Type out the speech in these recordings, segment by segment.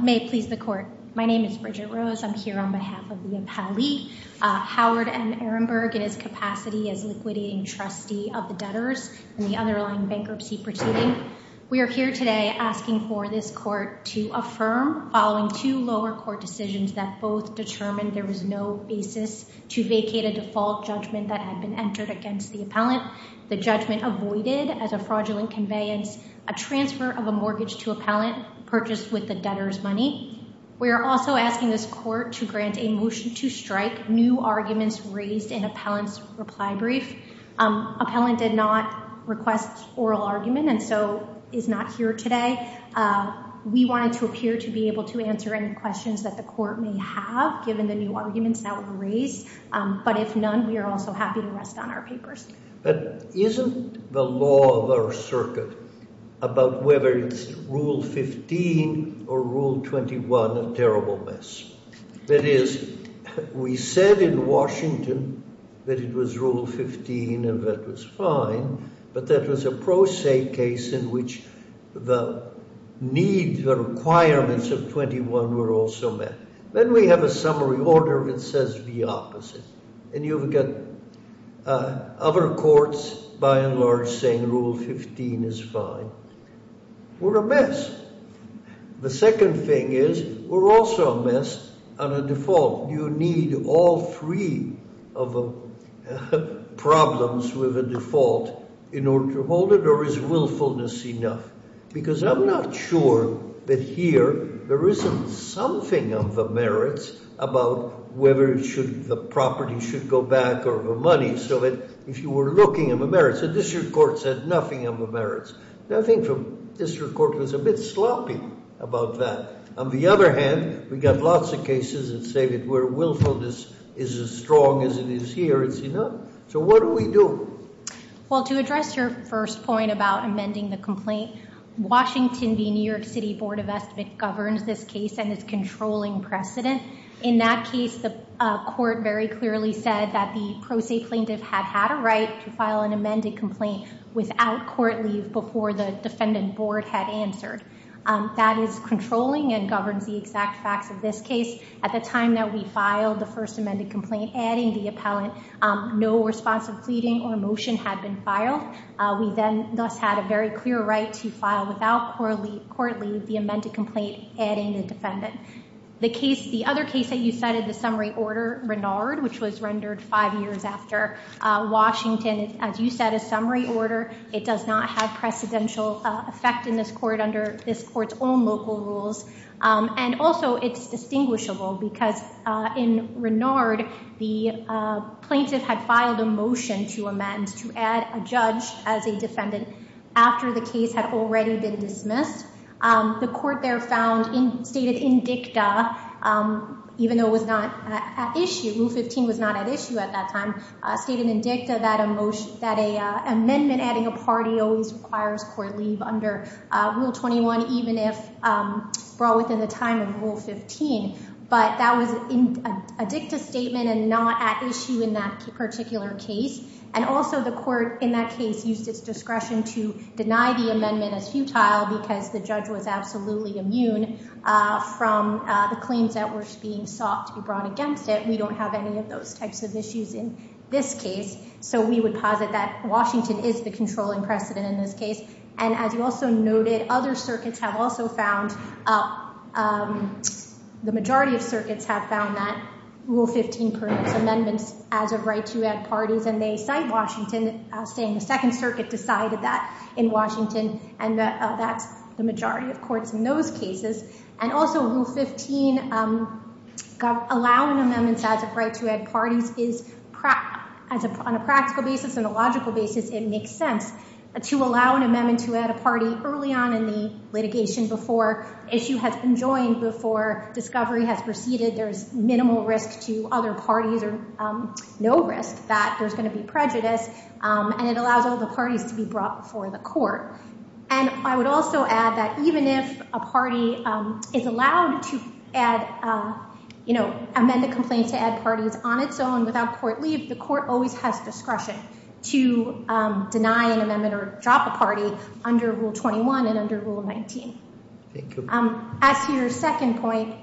May it please the Court. My name is Bridget Rose. I'm here on behalf of the appellee, Howard M. Ehrenberg, in his capacity as liquidating trustee of the debtors and the underlying bankruptcy proceeding. We are here today asking for this court to affirm, following two lower court decisions that both determined there was no basis to vacate a default judgment that had been entered against the appellant, the judgment avoided as a fraudulent conveyance, a transfer of a new appellant purchased with the debtor's money. We are also asking this court to grant a motion to strike new arguments raised in appellant's reply brief. Appellant did not request oral argument and so is not here today. We wanted to appear to be able to answer any questions that the court may have given the new arguments that were raised, but if none, we are also happy to rest on that. Rule 15 or Rule 21, a terrible mess. That is, we said in Washington that it was Rule 15 and that was fine, but that was a pro se case in which the need, the requirements of 21 were also met. Then we have a summary order that says the opposite, and you've got other courts by and large saying Rule 15 is fine. We're a mess. The second thing is, we're also a mess on a default. You need all three of the problems with a default in order to hold it, or is willfulness enough? Because I'm not sure that here there isn't something of the merits about whether the property should go back or the money, so that if you were looking at the merits, the district court said nothing of the merits. Nothing from the district court was a bit sloppy about that. On the other hand, we got lots of cases that say that where willfulness is as strong as it is here, it's enough. So what do we do? Well, to address your first point about amending the complaint, Washington, the New York City Board of Estimate, governs this case and is controlling precedent. In that case, the court very clearly said that the pro se plaintiff had had a right to file an amended complaint without court leave before the defendant answered. That is controlling and governs the exact facts of this case. At the time that we filed the first amended complaint, adding the appellant, no responsive pleading or motion had been filed. We then thus had a very clear right to file without court leave the amended complaint, adding the defendant. The other case that you cited, the summary order, Renard, which was rendered five years after Washington. As you said, a summary order, it does not have precedential effect in this court under this court's own local rules. And also, it's distinguishable because in Renard, the plaintiff had filed a motion to amend, to add a judge as a defendant after the case had already been dismissed. The court there found, stated in dicta, even though it was not at issue, Rule 15 was not at issue at that time, stated in dicta that an amendment adding a party always requires court leave under Rule 21, even if brought within the time of Rule 15. But that was in a dicta statement and not at issue in that particular case. And also, the court in that case used its discretion to deny the amendment as futile because the judge was absolutely immune from the claims that were being sought to be brought against it. We don't have any of those types of issues in this case. So we would posit that Washington is the controlling precedent in this case. And as you also noted, other circuits have also found, the majority of circuits have found that Rule 15 permits amendments as a right to add parties. And they cite Washington saying the Second Circuit decided that in Washington. And that's the majority of courts in those cases. And also, Rule 15, allowing amendments as a right to add parties is, on a practical basis and a logical basis, it makes sense to allow an amendment to add a party early on in the litigation before issue has been joined, before discovery has proceeded. There's minimal risk to other parties or no risk that there's going to be prejudice. And it allows all the parties to be brought before the court. And I would also add that even if a court is on its own without court leave, the court always has discretion to deny an amendment or drop a party under Rule 21 and under Rule 19. As to your second point,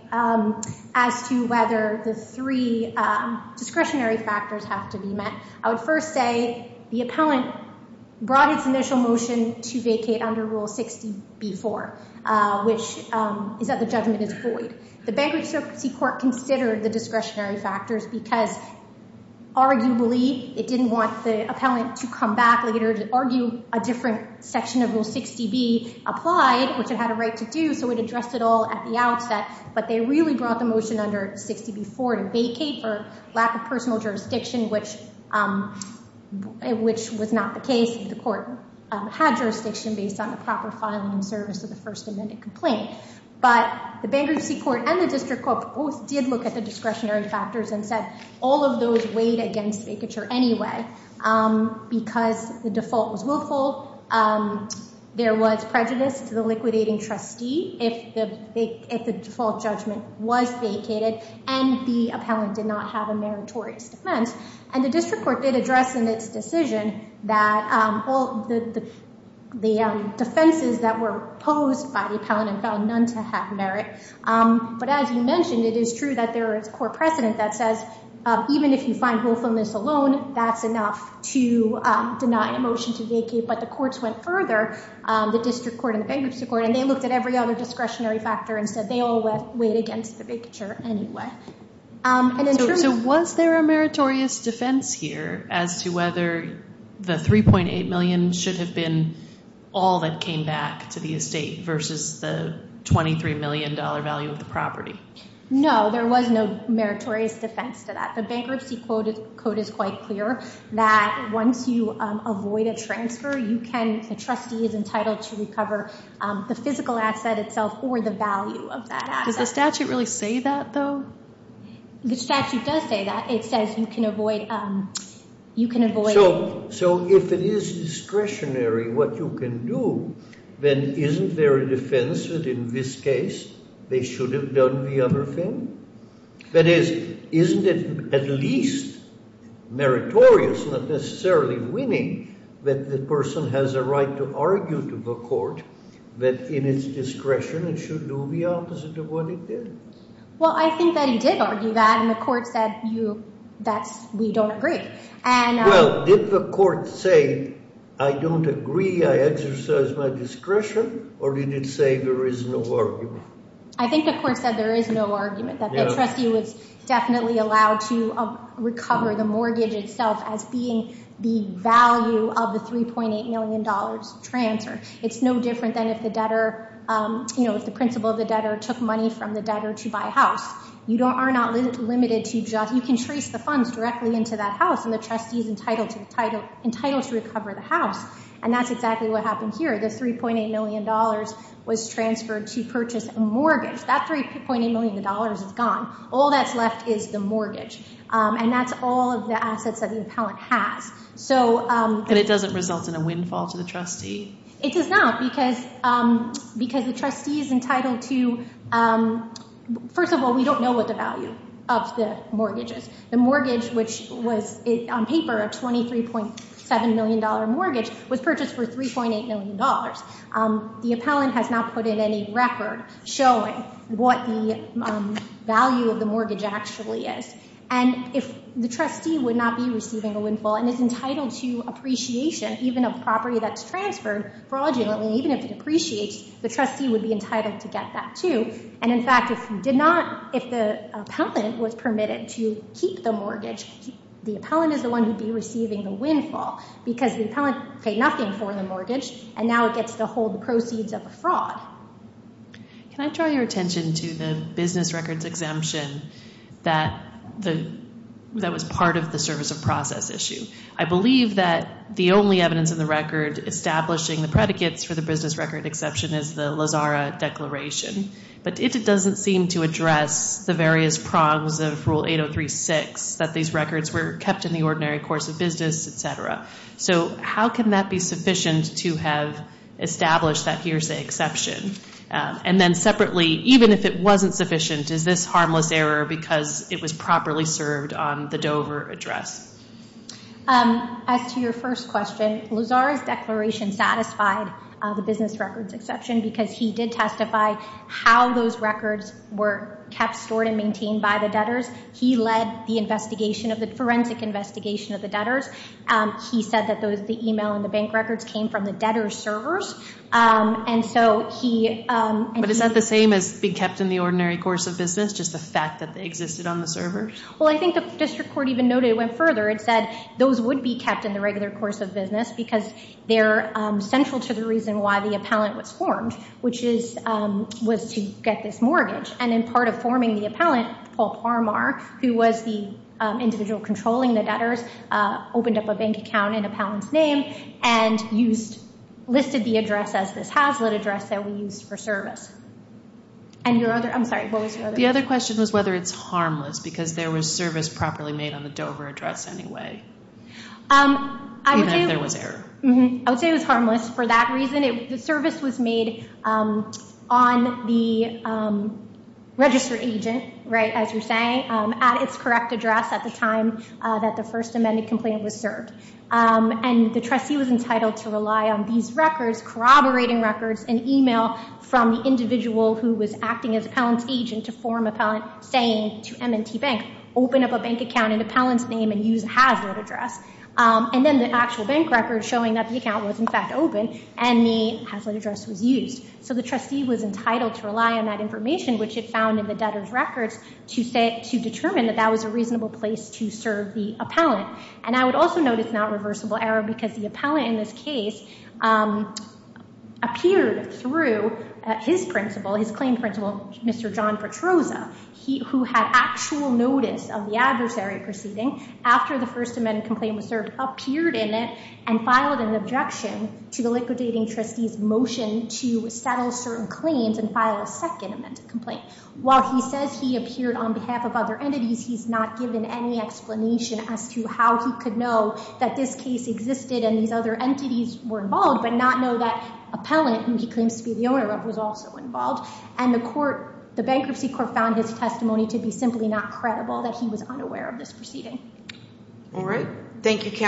as to whether the three discretionary factors have to be met, I would first say the appellant brought its initial motion to vacate under Rule 60B-4, which is that the judgment is void. The Bankruptcy Court considered the discretionary factors because, arguably, it didn't want the appellant to come back later to argue a different section of Rule 60B applied, which it had a right to do, so it addressed it all at the outset. But they really brought the motion under 60B-4 to vacate for lack of personal jurisdiction, which was not the case. The court had jurisdiction based on the proper filing and service of the First Amendment complaint. But the Bankruptcy Court and the discretionary factors, instead, all of those weighed against vacature anyway because the default was willful, there was prejudice to the liquidating trustee if the default judgment was vacated, and the appellant did not have a meritorious defense. And the District Court did address in its decision that all the defenses that were posed by the appellant found none to have merit. But as you mentioned, it is true that there is core precedent that says even if you find willfulness alone, that's enough to deny a motion to vacate. But the courts went further, the District Court and the Bankruptcy Court, and they looked at every other discretionary factor and said they all weighed against the vacature anyway. So was there a meritorious defense here as to whether the $3.8 million should have been all that came back to the estate versus the $23 million value of the property? No, there was no meritorious defense to that. The Bankruptcy Code is quite clear that once you avoid a transfer, the trustee is entitled to recover the physical asset itself or the value of that asset. Does the statute really say that, though? The statute does say that. It says you can avoid... So if it is discretionary what you can do, then isn't there a defense that in this case they should have done the other thing? That is, isn't it at least meritorious, not necessarily winning, that the person has a right to argue to the court that in its discretion it should do the opposite of what it did? Well, I think that he did argue that, and the court said we don't agree. Well, did the court say I don't agree, I exercise my discretion, or did it say there is no argument? I think the court said there is no argument that the trustee was definitely allowed to recover the mortgage itself as being the value of the $3.8 million transfer. It's no different than if the debtor, you know, if the principal of the debtor took money from the debtor to buy a house. You are not limited to just... You can trace the funds directly into that house, and the trustee is entitled to recover the house, and that's exactly what happened here. The $3.8 million was transferred to purchase a mortgage. That $3.8 million is gone. All that's left is the mortgage, and that's all of the assets that the appellant has. And it doesn't result in a windfall to the trustee? It does not, because the trustee is entitled to... First of all, we don't know what the value of the mortgage is. The mortgage, which was on paper a $23.7 million mortgage, was purchased for $3.8 million. The appellant has not put in any record showing what the value of the mortgage actually is. And if the trustee would not be receiving a windfall and is entitled to appreciation, even a property that's transferred fraudulently, even if it appreciates, the trustee would be entitled to get that too. And in fact, if he did not... If the appellant was permitted to keep the mortgage, the appellant is the one who'd be receiving the windfall, because the And now it gets to hold the proceeds of the fraud. Can I draw your attention to the business records exemption that was part of the service of process issue? I believe that the only evidence in the record establishing the predicates for the business record exception is the Lazara Declaration. But it doesn't seem to address the various prongs of Rule 803-6, that these records were kept in the ordinary course of business, etc. So how can that be sufficient to have established that here's the exception? And then separately, even if it wasn't sufficient, is this harmless error because it was properly served on the Dover address? As to your first question, Lazara's declaration satisfied the business records exception because he did testify how those records were kept stored and maintained by the debtors. He led the investigation of the forensic investigation of the debtors. He said that those the email and the bank records came from the debtor's servers. But is that the same as being kept in the ordinary course of business, just the fact that they existed on the server? Well, I think the district court even noted it went further. It said those would be kept in the regular course of business because they're central to the reason why the appellant was formed, which is was to get this mortgage. And in part of forming the appellant, Paul Parmar, who was the individual controlling the debtors, opened up a bank account in appellant's name and listed the address as this Hazlitt address that we use for service. And your other, I'm sorry, what was your other question? The other question was whether it's harmless because there was service properly made on the Dover address anyway, even if there was error. I would say it was harmless for that reason. The service was made on the registered agent, right, as you're saying, at its correct address at the time that the first amended complaint was served. And the trustee was entitled to rely on these records, corroborating records, and email from the individual who was acting as appellant's agent to form appellant saying to M&T Bank, open up a bank account in appellant's name and use Hazlitt address. And then the actual bank records showing that the account was in fact open and the Hazlitt address was used. So the trustee was entitled to rely on that information, which it found in the debtor's records, to determine that that was a reasonable place to serve the appellant. And I would also note it's not reversible error because the appellant in this case appeared through his principal, his claim principal, Mr. John Petrozza, who had actual notice of the adversary proceeding after the first amended complaint was served, appeared in it and filed an objection to the liquidating trustee's motion to settle certain complaint. While he says he appeared on behalf of other entities, he's not given any explanation as to how he could know that this case existed and these other entities were involved, but not know that appellant, who he claims to be the owner of, was also involved. And the court, the bankruptcy court, found his testimony to be simply not credible, that he was unaware of this proceeding. All right. Thank you, Kamala.